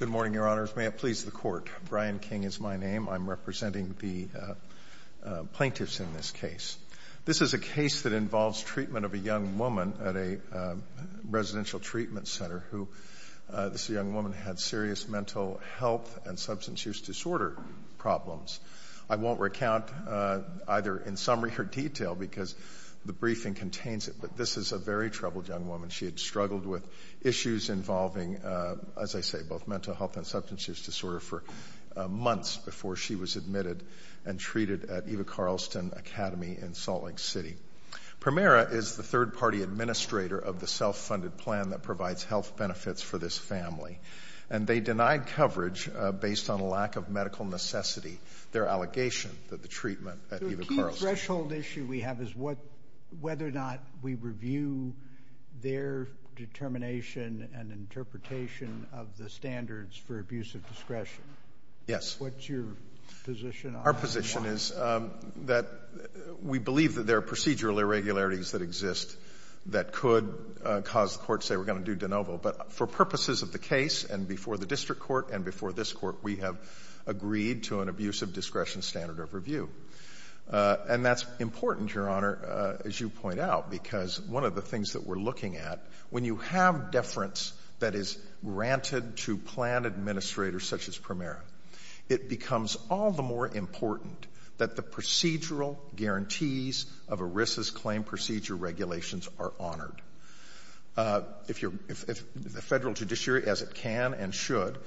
Good morning, Your Honors. May it please the Court, Brian King is my name. I'm representing the plaintiffs in this case. This is a case that involves treatment of a young woman at a residential treatment center. This young woman had serious mental health and substance use disorder problems. I won't recount either in summary or detail because the briefing contains it, but this is a very troubled young woman. She had struggled with issues involving, as I say, both mental health and substance use disorder for months before she was admitted and treated at Eva Carlston Academy in Salt Lake City. Premera is the third-party administrator of the self-funded plan that provides health benefits for this family, and they denied coverage based on a lack of medical necessity, their allegation that the treatment at Eva Carlston. The threshold issue we have is whether or not we review their determination and interpretation of the standards for abuse of discretion. Yes. What's your position on that? Our position is that we believe that there are procedural irregularities that exist that could cause the court to say, we're going to do de novo. But for purposes of the case and before the district court and before this court, we have agreed to an abuse of discretion standard of review. And that's important, Your Honor, as you point out, because one of the things that we're looking at, when you have deference that is granted to plan administrators such as Premera, it becomes all the more important that the procedural guarantees of ERISA's claim procedure regulations are honored. If the Federal judiciary, as it can and should,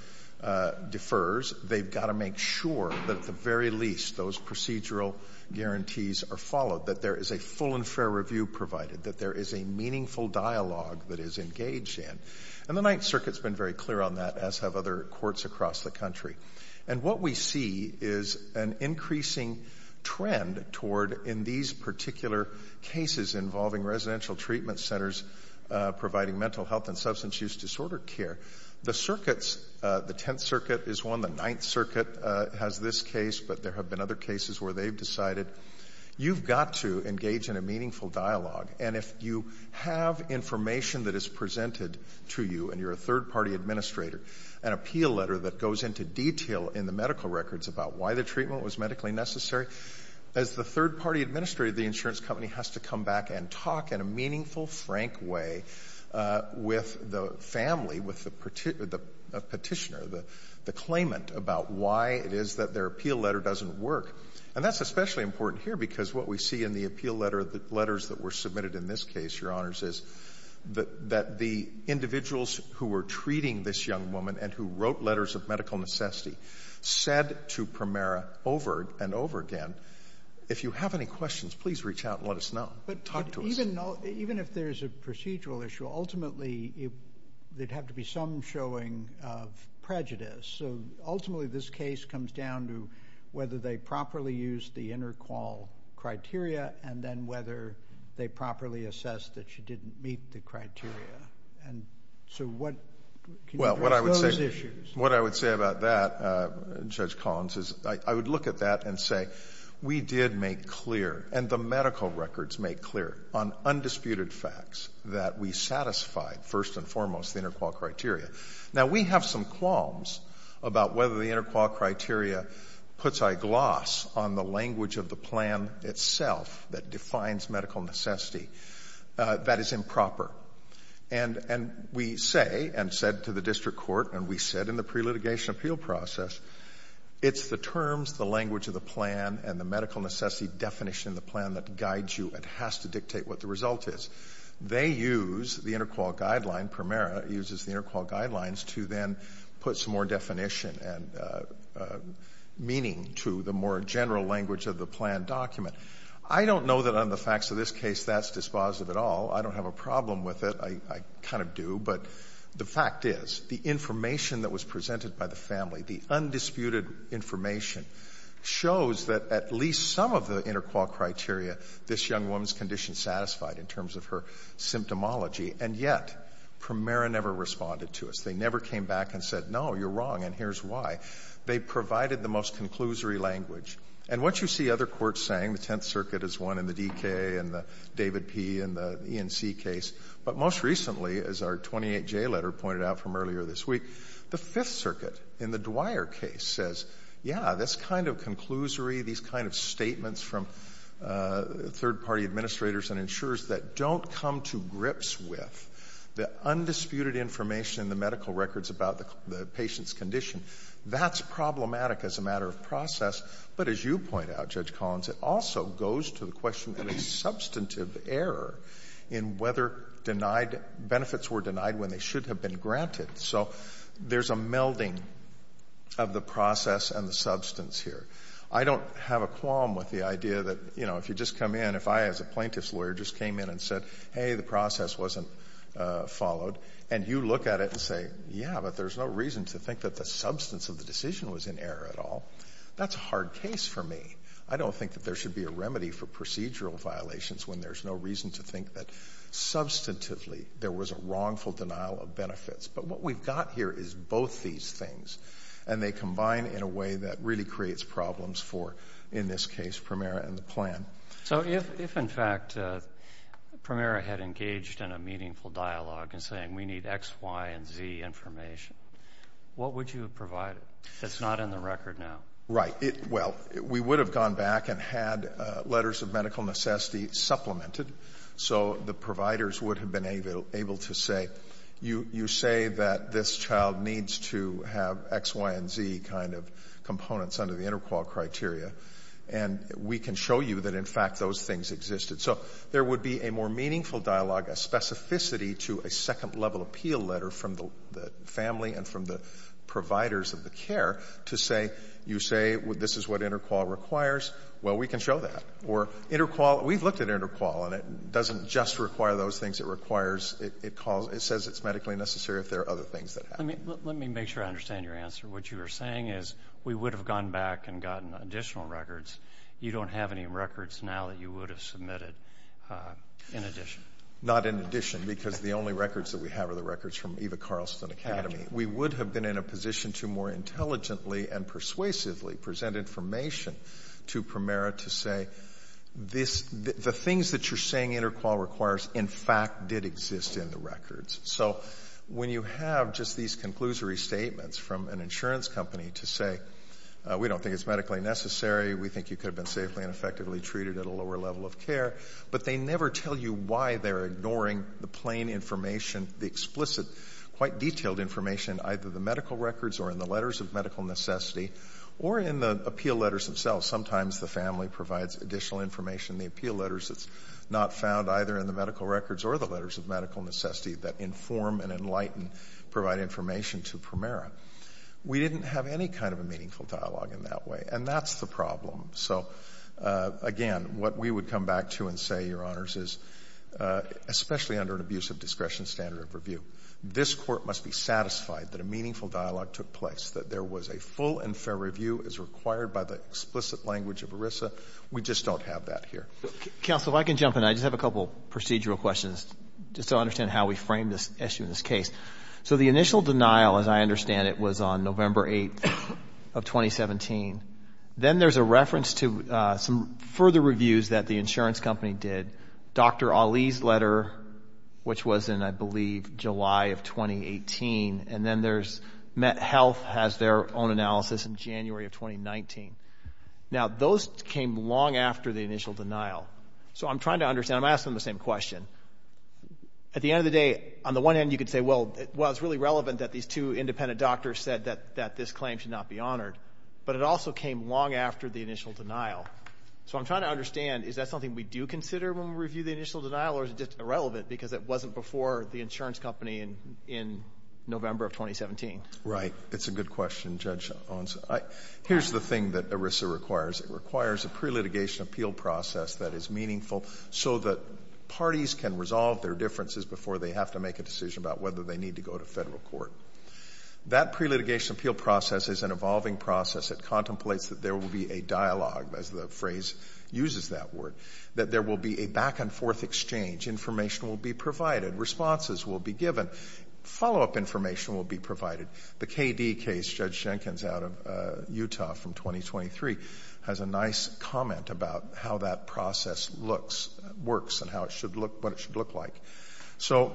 defers, they've got to make sure that at the very least those procedural guarantees are followed, that there is a full and fair review provided, that there is a meaningful dialogue that is engaged in. And the Ninth Circuit's been very clear on that, as have other courts across the country. And what we see is an increasing trend toward, in these particular cases involving residential treatment centers providing mental health and substance use disorder care, the circuits, the Tenth Circuit is one, the Ninth Circuit has this case, but there have been other cases where they've decided, you've got to engage in a meaningful dialogue. And if you have information that is presented to you and you're a third-party administrator, an appeal letter that goes into detail in the medical records about why the treatment was medically necessary, as the third-party administrator of the insurance company has to come back and talk in a meaningful, frank way with the family, with the petitioner, the claimant, about why it is that their appeal letter doesn't work. And that's especially important here, because what we see in the appeal letter, the letters that were submitted in this case, Your Honors, is that the individuals who were treating this young woman and who wrote letters of medical necessity said to Primera over and over again, if you have any questions, please reach out and let us know. Talk to us. Even if there's a procedural issue, ultimately there'd have to be some showing of prejudice. So ultimately this case comes down to whether they properly used the inter-qual criteria and then whether they properly assessed that she didn't meet the criteria. And so what, can you address those issues? What I would say about that, Judge Collins, is I would look at that and say, we did make clear, and the medical records make clear, on undisputed facts, that we satisfied, first and foremost, the inter-qual criteria. Now we have some qualms about whether the inter-qual criteria puts a gloss on the language of the plan itself that defines medical necessity. That is improper. And we say, and said to the district court, and we said in the pre-litigation appeal process, it's the terms, the language of the plan, and the medical necessity definition of the plan that guides you and has to dictate what the result is. They use the inter-qual guideline, Primera uses the inter-qual guidelines, to then put some more definition and meaning to the more general language of the plan document. I don't know that on the facts of this case that's dispositive at all. I don't have a problem with it. I kind of do. But the fact is, the information that was presented by the family, the undisputed information, shows that at least some of the inter-qual criteria, this young woman's condition satisfied in terms of her symptomology, and yet Primera never responded to us. They never came back and said, no, you're wrong, and here's why. They provided the most conclusory language. And what you see other courts saying, the Tenth Circuit is one in the DK and the David P. in the E&C case, but most recently, as our 28J letter pointed out from earlier this week, the Fifth Circuit in the Dwyer case says, yes, this kind of conclusory, these kind of statements from third-party administrators and insurers that don't come to grips with the undisputed information in the medical records about the patient's condition, that's problematic as a matter of process. But as you point out, Judge Collins, it also goes to the question of a substantive error in whether denied benefits were denied when they should have been granted. So there's a melding of the process and the substance here. I don't have a qualm with the idea that, you know, if you just come in, if I as a plaintiff's lawyer just came in and said, hey, the process wasn't followed, and you look at it and say, yeah, but there's no reason to think that the substance of the decision was in error at all, that's a hard case for me. I don't think that there should be a remedy for procedural violations when there's no reason to think that substantively there was a wrongful denial of benefits. But what we've got here is both these things, and they combine in a way that really creates problems for, in this case, Primera and the plan. So if, in fact, Primera had engaged in a meaningful dialogue in saying, we need X, Y, and Z information, what would you have provided? That's not in the record now. Right. Well, we would have gone back and had letters of medical necessity supplemented. So the providers would have been able to say, you say that this child needs to have X, Y, and Z kind of components under the interqual criteria, and we can show you that, in fact, those things existed. So there would be a more meaningful dialogue, a specificity to a second-level appeal letter from the family and from the providers of the care to say, you say, this is what interqual requires, well, we can show that. Or interqual, we've looked at interqual, and it doesn't just require those things, it requires, it says it's medically necessary if there are other things that happen. Let me make sure I understand your answer. What you are saying is, we would have gone back and gotten additional records. You don't have any records now that you would have submitted in addition. Not in addition, because the only records that we have are the records from Eva Carlson Academy. We would have been in a position to more intelligently and persuasively present information to Primera to say, the things that you're saying interqual requires, in fact, did exist in the records. So when you have just these conclusory statements from an insurance company to say, we don't think it's medically necessary, we think you could have been safely and effectively treated at a lower level of care, but they never tell you why they're ignoring the plain information, the explicit, quite detailed information, either the medical records or in the letters of medical necessity or in the appeal letters themselves. Sometimes the family provides additional information in the appeal letters that's not found either in the medical records or the letters of medical necessity that inform and enlighten, provide information to Primera. We didn't have any kind of a meaningful dialogue in that way. And that's the problem. So again, what we would come back to and say, Your Honors, is, especially under an abusive discretion standard of review, this Court must be satisfied that a meaningful dialogue took place, that there was a full and fair review as required by the explicit language of ERISA. We just don't have that here. Counsel, if I can jump in, I just have a couple of procedural questions just to understand how we frame this issue in this case. So the initial denial, as I understand it, was on November 8th of 2017. Then there's a reference to some further reviews that the insurance company did, Dr. Ali's letter, which was in, I believe, July of 2018. And then there's MetHealth has their own analysis in January of 2019. Now, those came long after the initial denial. So I'm trying to understand, I'm asking the same question. At the end of the day, on the one hand, you could say, Well, it's really relevant that these two independent doctors said that this claim should not be honored. But it also came long after the initial denial. So I'm trying to understand, is that something we do consider when we review the initial denial, or is it just irrelevant because it wasn't before the insurance company in November of 2017? Right. It's a good question, Judge Owens. Here's the thing that ERISA requires. It requires a pre-litigation appeal process that is meaningful so that parties can resolve their differences before they have to make a decision about whether they need to go to federal court. That pre-litigation appeal process is an evolving process. It contemplates that there will be a dialogue, as the phrase uses that word, that there will be a back and forth exchange. Information will be provided. Responses will be given. Follow-up information will be provided. The KD case, Judge Jenkins out of Utah from 2023, has a nice comment about how that process looks, works, and what it should look like. So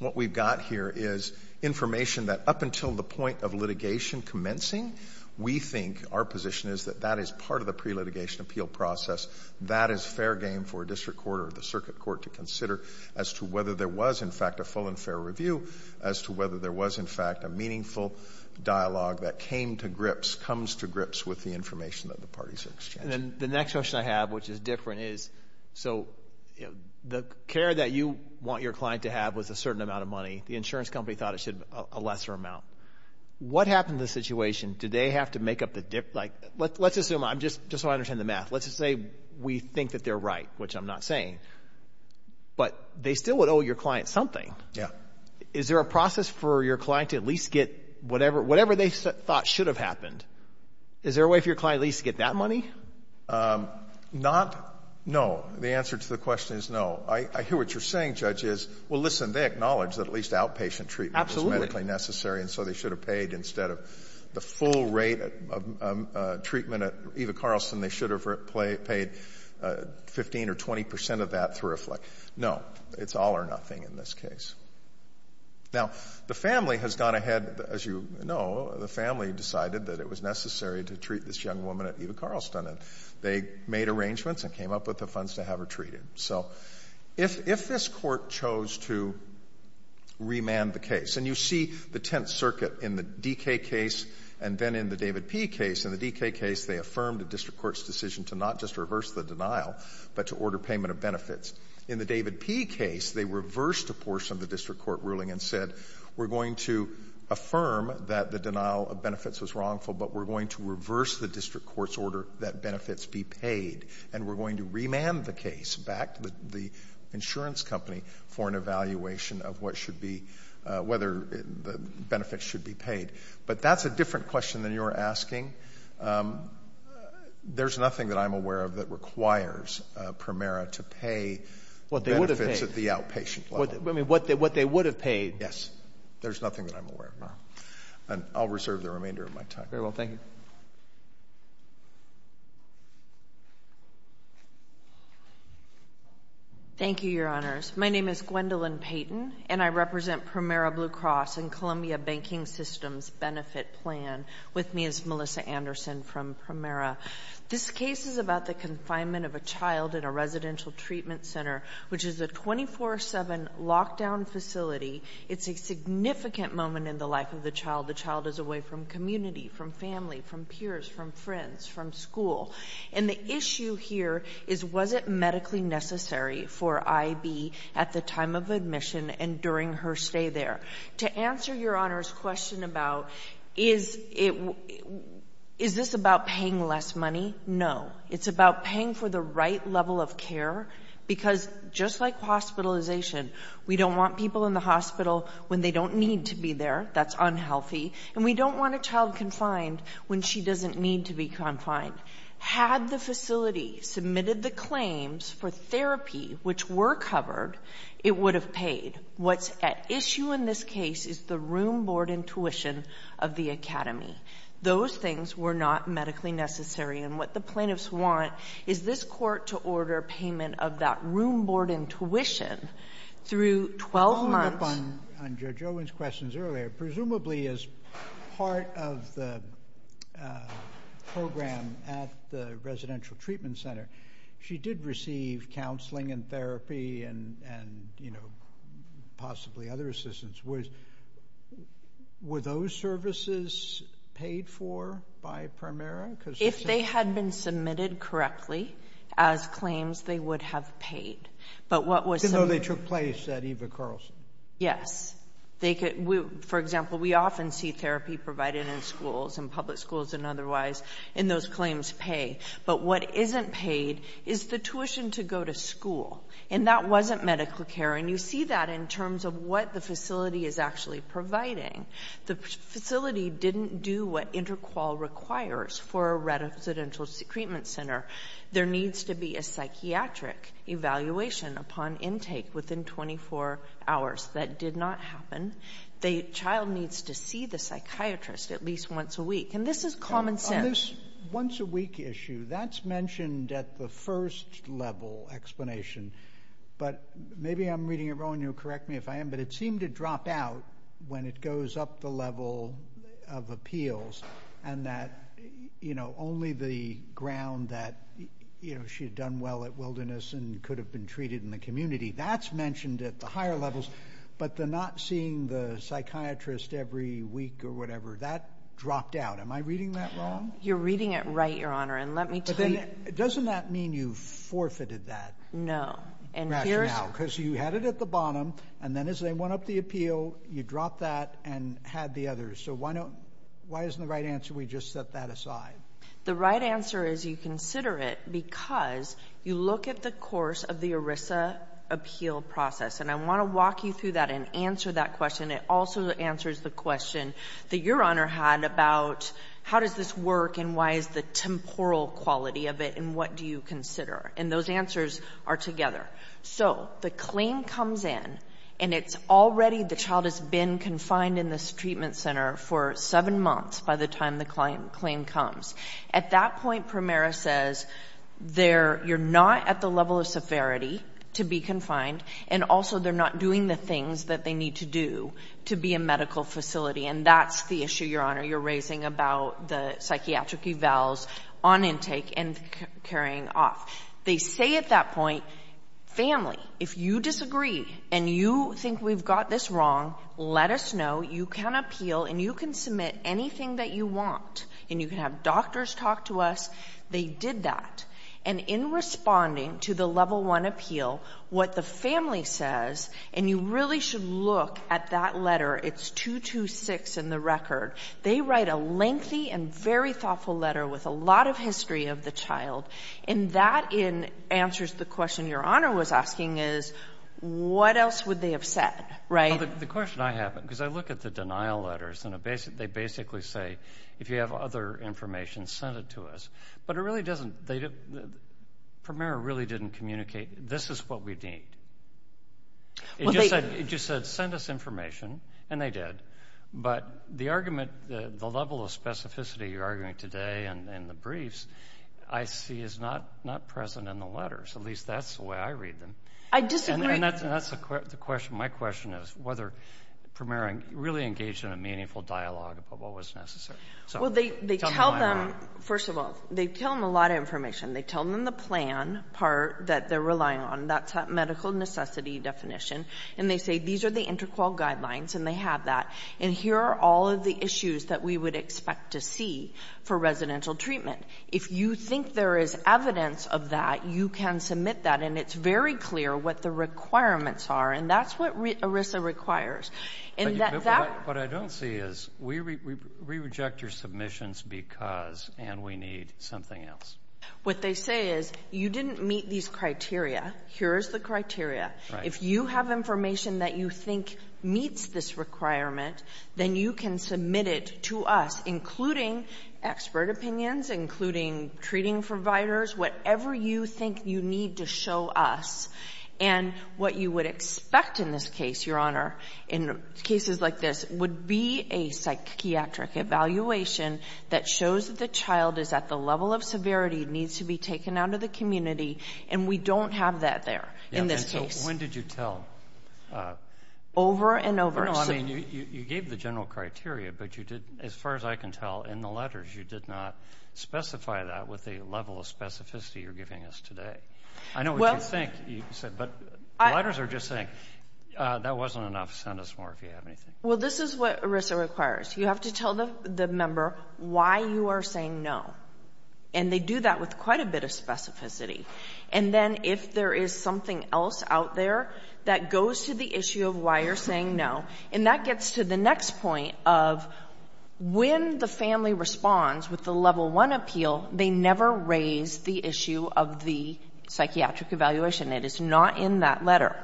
what we've got here is information that up until the point of litigation commencing, we think our position is that that is part of the pre-litigation appeal process. That is fair game for a district court or the circuit court to consider as to whether there was, in fact, a full and fair review, as to whether there was, in fact, a meaningful dialogue that came to grips, comes to grips with the information that the parties are exchanging. And then the next question I have, which is different, is so the care that you want your client to have was a certain amount of money. The insurance company thought it should be a lesser amount. What happened to the situation? Did they have to make up the difference? Like, let's assume, just so I understand the math, let's just say we think that they're right, which I'm not saying, but they still would owe your client something. Yeah. Is there a process for your client to at least get whatever they thought should have happened? Is there a way for your client at least to get that money? Not. No. The answer to the question is no. I hear what you're saying, Judge, is, well, listen, they acknowledged that at least outpatient treatment was medically necessary, and so they should have paid. Instead of the full rate of treatment at Eva Carlson, they should have paid 15 or 20 percent of that through a flick. No. It's all or nothing in this case. Now, the family has gone ahead, as you know, the family decided that it was necessary to treat this young woman at Eva Carlson, and they made arrangements and came up with the funds to have her treated. So if this Court chose to remand the case, and you see the Tenth Circuit in the D.K. case and then in the David P. case, in the D.K. case they affirmed the district court's decision to not just reverse the denial, but to order payment of benefits. In the David P. case, they reversed a portion of the district court ruling and said, we're going to affirm that the denial of benefits was wrongful, but we're going to reverse the district court's order that benefits be paid, and we're going to remand the case back to the insurance company for an evaluation of what should be — whether the benefits should be paid. But that's a different question than you're asking. There's nothing that I'm aware of that requires Primera to pay benefits at the outpatient level. What they would have paid. I mean, what they would have paid. Yes. There's nothing that I'm aware of. And I'll reserve the remainder of my time. Very well. Thank you. Thank you, Your Honors. My name is Gwendolyn Payton, and I represent Primera Blue Cross and Columbia Banking Systems Benefit Plan. With me is Melissa Anderson from Primera. This case is about the confinement of a child in a residential treatment center, which is a 24-7 lockdown facility. It's a significant moment in the life of the child. The child is away from community, from family, from peers, from friends, from school. And the issue here is, was it medically necessary for IB at the time of admission and during her stay there? To answer Your Honor's question about, is it — is this about paying less money? No. It's about paying for the right level of care, because just like hospitalization, we don't want people in the hospital when they don't need to be there. That's unhealthy. And we don't want a child confined when she doesn't need to be confined. Had the facility submitted the claims for therapy, which were covered, it would have paid. What's at issue in this case is the room, board, and tuition of the academy. Those things were not medically necessary. And what the plaintiffs want is this court to order payment of that room, board, and tuition through 12 months — Following up on Judge Owen's questions earlier, presumably as part of the program at the residential treatment center, she did receive counseling and therapy and, you know, possibly other assistance. Were those services paid for by Primera? If they had been submitted correctly as claims, they would have paid. But what was — Even though they took place at Eva Carlson? Yes. For example, we often see therapy provided in schools, in public schools and otherwise, and those claims pay. But what isn't paid is the tuition to go to school. And that wasn't medical care. And you see that in terms of what the facility is actually providing. The facility didn't do what InterQual requires for a residential treatment center. There needs to be a psychiatric evaluation upon intake within 24 hours. That did not happen. The child needs to see the psychiatrist at least once a week. And this is common sense. On this once-a-week issue, that's mentioned at the first level explanation. But maybe I'm reading it wrong, and you'll correct me if I am, but it seemed to drop out when it goes up the level of appeals and that, you know, only the ground that, you know, she had done well at Wilderness and could have been treated in the community, that's mentioned at the higher levels. But the not seeing the psychiatrist every week or whatever, that dropped out. Am I reading that wrong? You're reading it right, Your Honor, and let me tell you... But then, doesn't that mean you forfeited that rationale? No. And here's... Because you had it at the bottom, and then as they went up the appeal, you dropped that and had the others. So why isn't the right answer we just set that aside? The right answer is you consider it because you look at the course of the ERISA appeal process. And I want to walk you through that and answer that question. It also answers the question that Your Honor had about how does this work, and why is the temporal quality of it, and what do you consider? And those answers are together. So the claim comes in, and it's already the child has been confined in this treatment center for seven months by the time the claim comes. At that point, Primera says you're not at the level of severity to be confined, and also they're not doing the things that they need to do to be a medical facility. And that's the issue, Your Honor, you're raising about the psychiatric evals on intake and carrying off. They say at that point, family, if you disagree and you think we've got this wrong, let us know. You can appeal, and you can submit anything that you want. And you can have doctors talk to us. They did that. And in responding to the Level I appeal, what the family says, and you really should look at that letter, it's 226 in the record. They write a lengthy and very thoughtful letter with a lot of history of the child. And that answers the question Your Honor was asking is what else would they have said, right? Well, the question I have, because I look at the denial letters, and they basically say if you have other information, send it to us. But it really doesn't, Primera really didn't communicate this is what we need. It just said send us information, and they did. But the argument, the level of specificity you're arguing today in the briefs, I see is not present in the letters. At least that's the way I read them. I disagree. And that's the question. My question is whether Primera really engaged in a meaningful dialogue about what was necessary. Well, they tell them, first of all, they tell them a lot of information. They tell them the plan part that they're relying on. That's a medical necessity definition. And they say these are the interqual guidelines, and they have that. And here are all of the issues that we would expect to see for residential treatment. If you think there is evidence of that, you can submit that. And it's very clear what the requirements are. And that's what ERISA requires. But what I don't see is we reject your submissions because, and we need something else. What they say is you didn't meet these criteria. Here's the criteria. If you have information that you think meets this requirement, then you can submit it to us, including expert opinions, including treating providers, whatever you think you need to show us. And what you would expect in this case, Your Honor, in cases like this, would be a psychiatric evaluation that shows that the child is at the level of severity, needs to be taken out of the community, and we don't have that there in this case. Yeah, and so when did you tell? Over and over. No, I mean, you gave the general criteria, but you did, as far as I can tell, in the letters, you did not specify that with the level of specificity you're giving us today. I know what you think, you said. But the letters are just saying that wasn't enough. Send us more if you have anything. Well, this is what ERISA requires. You have to tell the member why you are saying no. And they do that with quite a bit of specificity. And then if there is something else out there that goes to the issue of why you're saying no, and that gets to the next point of when the family responds with the level one appeal, they never raise the issue of the psychiatric evaluation. It is not in that letter.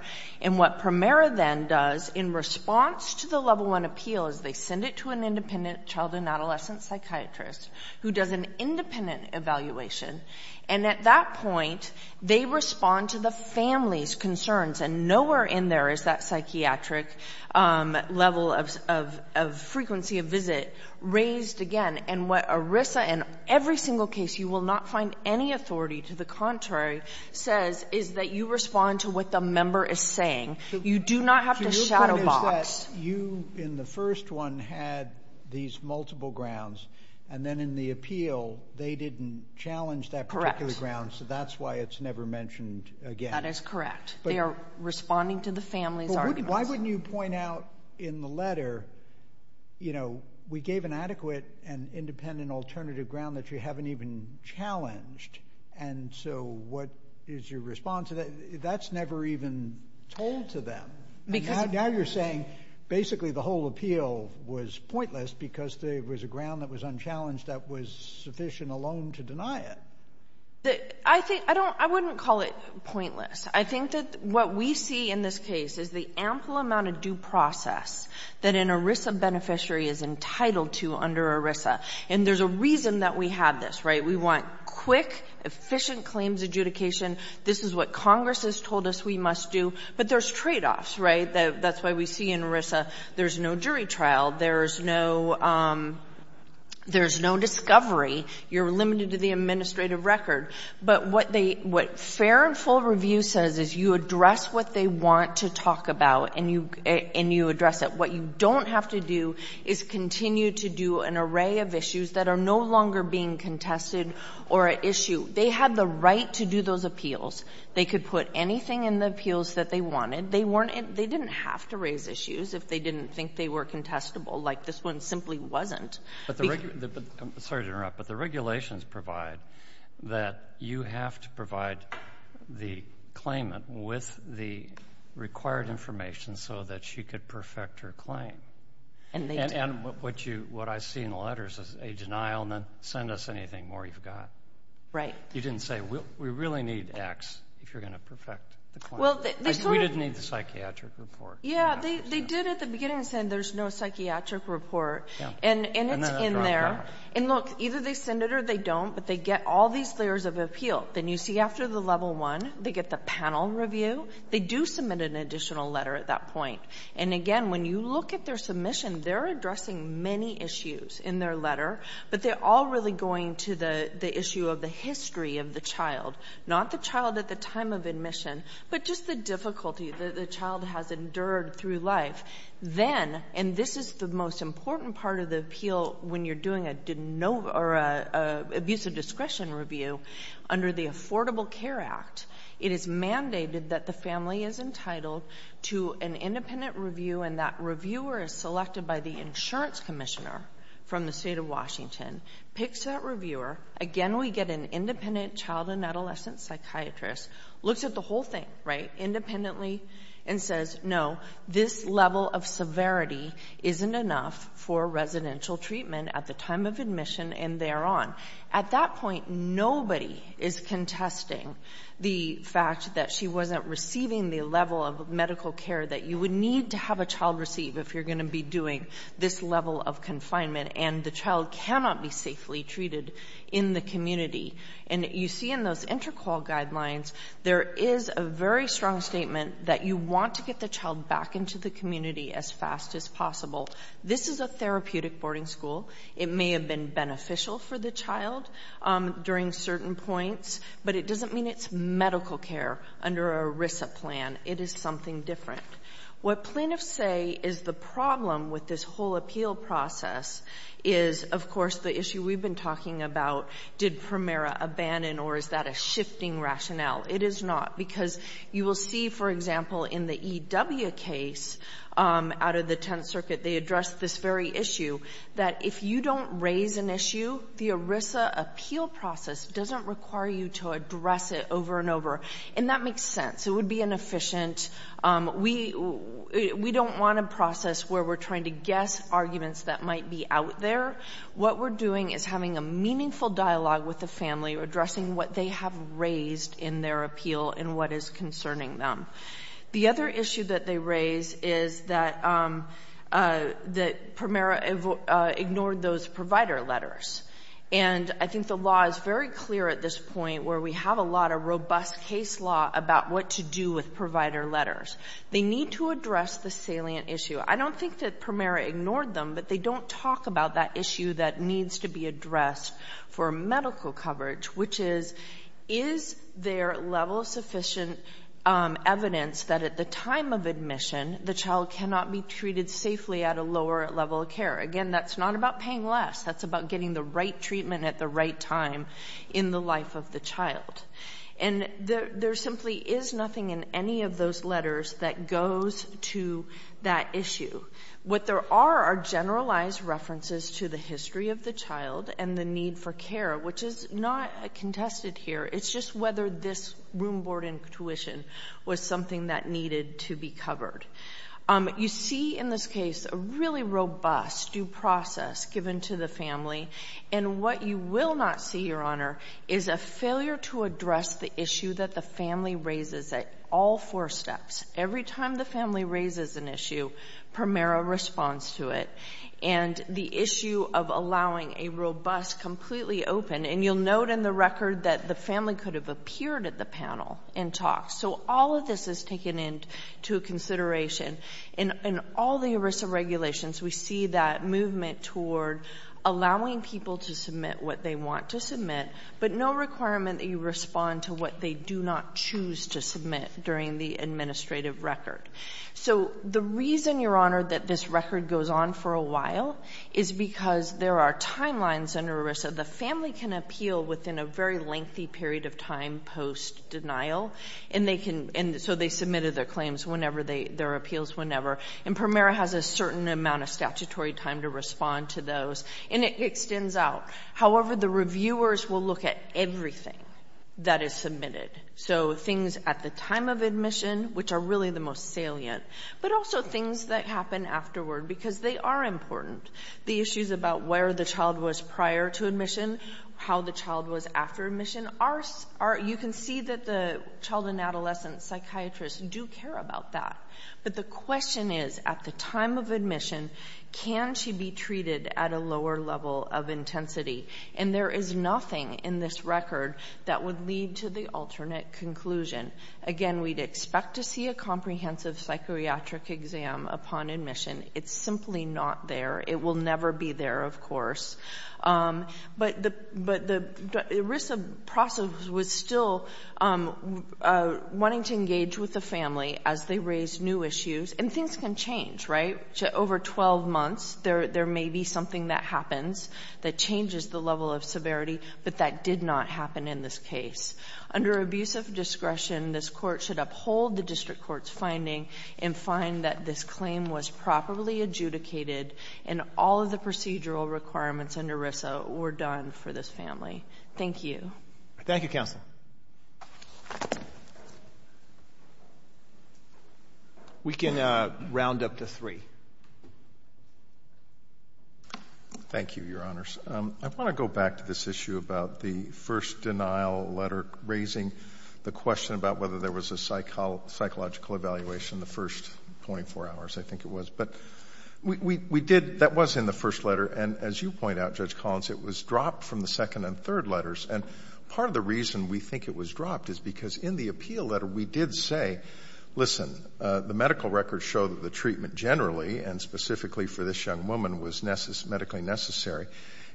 And what PRIMERA then does in response to the level one appeal is they send it to an independent child and adolescent psychiatrist who does an independent evaluation. And at that point, they respond to the family's concerns. And nowhere in there is that psychiatric level of frequency of visit raised again. And what ERISA, in every single case, you cannot find any authority to the contrary, says is that you respond to what the member is saying. You do not have to shadow box. You in the first one had these multiple grounds. And then in the appeal, they didn't challenge that particular ground. So that's why it's never mentioned again. That is correct. They are responding to the family's arguments. Why wouldn't you point out in the letter, you know, we gave an adequate and independent alternative ground that you haven't even challenged. And so what is your response? That's never even told to them. Now you're saying basically the whole appeal was pointless because there was a ground that was unchallenged that was sufficient alone to deny it. I think, I don't, I wouldn't call it pointless. I think that what we see in this case is the ample amount of due process that an ERISA beneficiary is entitled to under ERISA. And there's a reason that we have this, right? We want quick, efficient claims adjudication. This is what Congress has told us we must do. But there's tradeoffs, right? That's why we see in ERISA there's no jury trial. There's no, there's no discovery. You're limited to the administrative record. But what they, what fair and full review says is you address what they want to talk about and you, and you address it. What you don't have to do is continue to do an array of issues that are no longer being contested or at issue. They had the right to do those appeals. They could put anything in the appeals that they wanted. They weren't, they didn't have to raise issues if they didn't think they were contestable. Like this one simply wasn't. But the, sorry to interrupt, but the regulations provide that you have to provide the claimant with the required information so that she could perfect her claim. And they do. What I see in the letters is a denial and then send us anything more you've got. You didn't say we really need X if you're going to perfect the claim. Well, they sort of. We didn't need the psychiatric report. Yeah, they did at the beginning say there's no psychiatric report. Yeah. And it's in there. And then it dropped out. And look, either they send it or they don't, but they get all these layers of appeal. Then you see after the level one, they get the panel review. They do submit an additional letter at that point. And again, when you look at their submission, they're addressing many issues in their letter, but they're all really going to the issue of the history of the child, not the child at the time of admission, but just the difficulty that the child has endured through life. Then, and this is the most important part of the appeal when you're doing a, or a abuse of discretion review under the Affordable Care Act, it is mandated that the family is entitled to an independent review and that reviewer is selected by the insurance commissioner from the state of Washington, picks that reviewer. Again, we get an independent child and adolescent psychiatrist, looks at the whole thing, right, independently and says, no, this level of severity isn't enough for residential treatment at the time of admission and there on. At that point, nobody is contesting the fact that she wasn't receiving the level of medical care that you would need to have a child receive if you're going to be doing this level of confinement and the child cannot be safely treated in the community. And you see in those inter-call guidelines, there is a very strong statement that you want to get the child back into the community as fast as possible. This is a therapeutic boarding school. It may have been beneficial for the child during certain points, but it doesn't mean it's medical care under an ERISA plan. It is something different. What plaintiffs say is the problem with this whole appeal process is, of course, the issue we've been talking about, did Primera abandon or is that a shifting rationale? It is not, because you will see, for example, in the E.W. case out of the is an issue. The ERISA appeal process doesn't require you to address it over and over. And that makes sense. It would be inefficient. We don't want a process where we're trying to guess arguments that might be out there. What we're doing is having a meaningful dialogue with the family, addressing what they have raised in their appeal and what is concerning them. The other issue that they raise is that Primera ignored those provider letters. And I think the law is very clear at this point where we have a lot of robust case law about what to do with provider letters. They need to address the salient issue. I don't think that Primera ignored them, but they don't talk about that issue that needs to be addressed for medical coverage, which is, is there level-sufficient evidence that at the time of admission the child cannot be treated safely at a lower level of care? Again, that's not about paying less. That's about getting the right treatment at the right time in the life of the child. And there simply is nothing in any of those letters that goes to that issue. What there are are generalized references to the history of the child and the need for care, which is not contested here. It's just whether this room board intuition was something that needed to be covered. You see in this case a really robust due process given to the family. And what you will not see, Your Honor, is a failure to address the issue that the family raises at all four steps. Every time the family raises an issue, Primera responds to it. And the issue of allowing a robust, completely open, and you'll note in the record that the family could have appeared at the panel and talked. So all of this is taken into consideration. In all the ERISA regulations, we see that movement toward allowing people to submit what they want to submit, but no requirement that you respond to what they do not choose to submit during the administrative record. So the reason, Your Honor, that this record goes on for a while is because there are timelines under ERISA. The family can appeal within a very lengthy period of time post-denial. And they can, and so they submitted their claims whenever they, their appeals whenever. And Primera has a certain amount of statutory time to respond to those. And it extends out. However, the reviewers will look at everything that is submitted. So things at the time of admission, which are really the most salient, but also things that happen afterward because they are important. The issues about where the child was prior to admission, how the child was after admission. You can see that the child and adolescent psychiatrists do care about that. But the question is, at the time of admission, can she be treated at a lower level of intensity? And there is nothing in this record that would lead to the alternate conclusion. Again, we'd expect to see a comprehensive psychiatric exam upon admission. It's simply not there. It will never be there, of course. But the ERISA process was still wanting to engage with the family as they raised new issues. And things can change, right? Over 12 months, there may be something that happens that changes the level of severity, but that did not happen in this case. Under abuse of discretion, this Court should uphold the district court's finding and find that this claim was properly adjudicated and all of the procedural requirements under ERISA were done for this family. Thank you. Roberts. Thank you, counsel. We can round up to three. Thank you, Your Honors. I want to go back to this issue about the first denial letter raising the question about whether there was a psychological evaluation the first 24 hours, I think it was. But we did — that was in the first letter. And as you point out, Judge Collins, it was dropped from the second and third letters. And part of the reason we think it was dropped is because in the appeal letter, we did say, listen, the medical records show that the treatment generally and specifically for this young woman was medically necessary.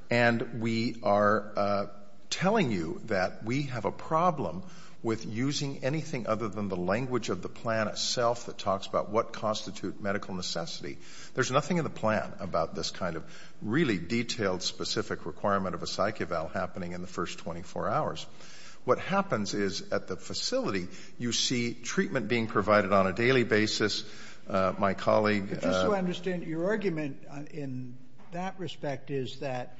And we are telling you that we have a problem with using anything other than the language of the plan itself that talks about what constitute medical necessity. There's nothing in the plan about this kind of really detailed, specific requirement of a psych eval happening in the first 24 hours. What happens is, at the facility, you see treatment being provided on a daily basis. My colleague — But just so I understand, your argument in that respect is that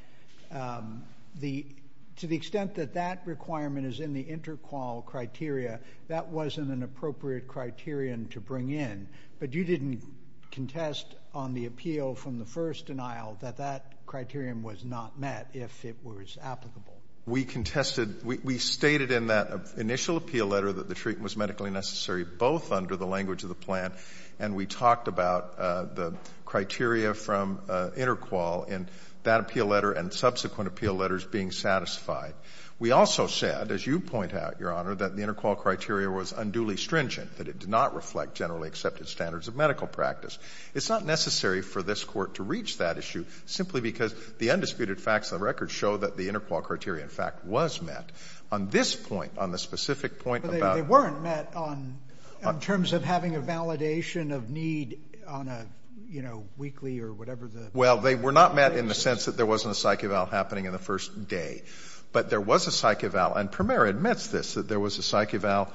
the — to the extent that that requirement is in the interqual criteria, that wasn't an appropriate criterion to bring in. But you didn't contest on the appeal from the first denial that that criterion was not met, if it was applicable. We contested — we stated in that initial appeal letter that the treatment was medically necessary, both under the language of the plan, and we talked about the criteria from interqual in that appeal letter and subsequent appeal letters being satisfied. We also said, as you point out, Your Honor, that the interqual criteria was unduly stringent, that it did not reflect generally accepted standards of medical practice. It's not necessary for this Court to reach that issue simply because the undisputed facts of the record show that the interqual criteria, in fact, was met. On this point, on the specific point about — But they weren't met on — in terms of having a validation of need on a, you know, weekly or whatever the — Well, they were not met in the sense that there wasn't a psych eval happening in the first day. But there was a psych eval, and Premier admits this, that there was a psych eval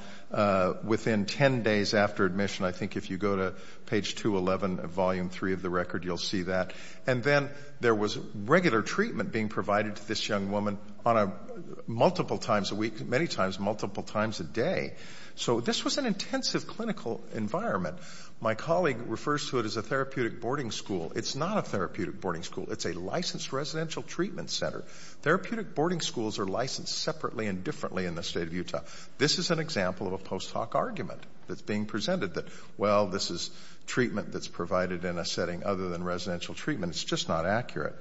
within 10 days after admission. I think if you go to page 211 of Volume III of the record, you'll see that. And then there was regular treatment being provided to this young woman on a — multiple times a week, many times, multiple times a day. So this was an intensive clinical environment. My colleague refers to it as a therapeutic boarding school. It's not a therapeutic boarding school. It's a licensed residential treatment center. Therapeutic boarding schools are licensed separately and differently in the State of This is an example of a post hoc argument that's being presented, that, well, this is treatment that's provided in a setting other than residential treatment. It's just not accurate.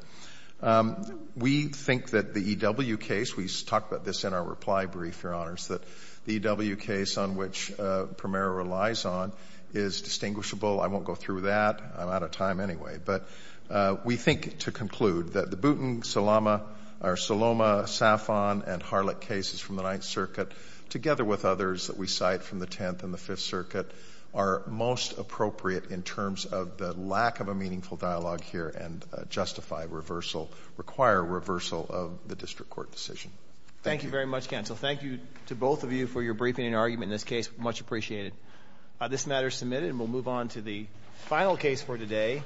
We think that the E.W. case — we talked about this in our reply brief, Your Honors, that the E.W. case on which Premier relies on is distinguishable. I won't go through that. I'm out of time anyway. But we think, to conclude, that the Boutin, Salama — or Saloma, Safon, and Harlett cases from the Ninth Circuit, together with others that we cite from the Tenth and the Fifth Circuit, are most appropriate in terms of the lack of a meaningful dialogue here and justify reversal — require reversal of the district court decision. Thank you. Thank you very much, Counsel. Thank you to both of you for your briefing and argument in this case. Much appreciated. This matter is submitted and we'll move on to the final case for today.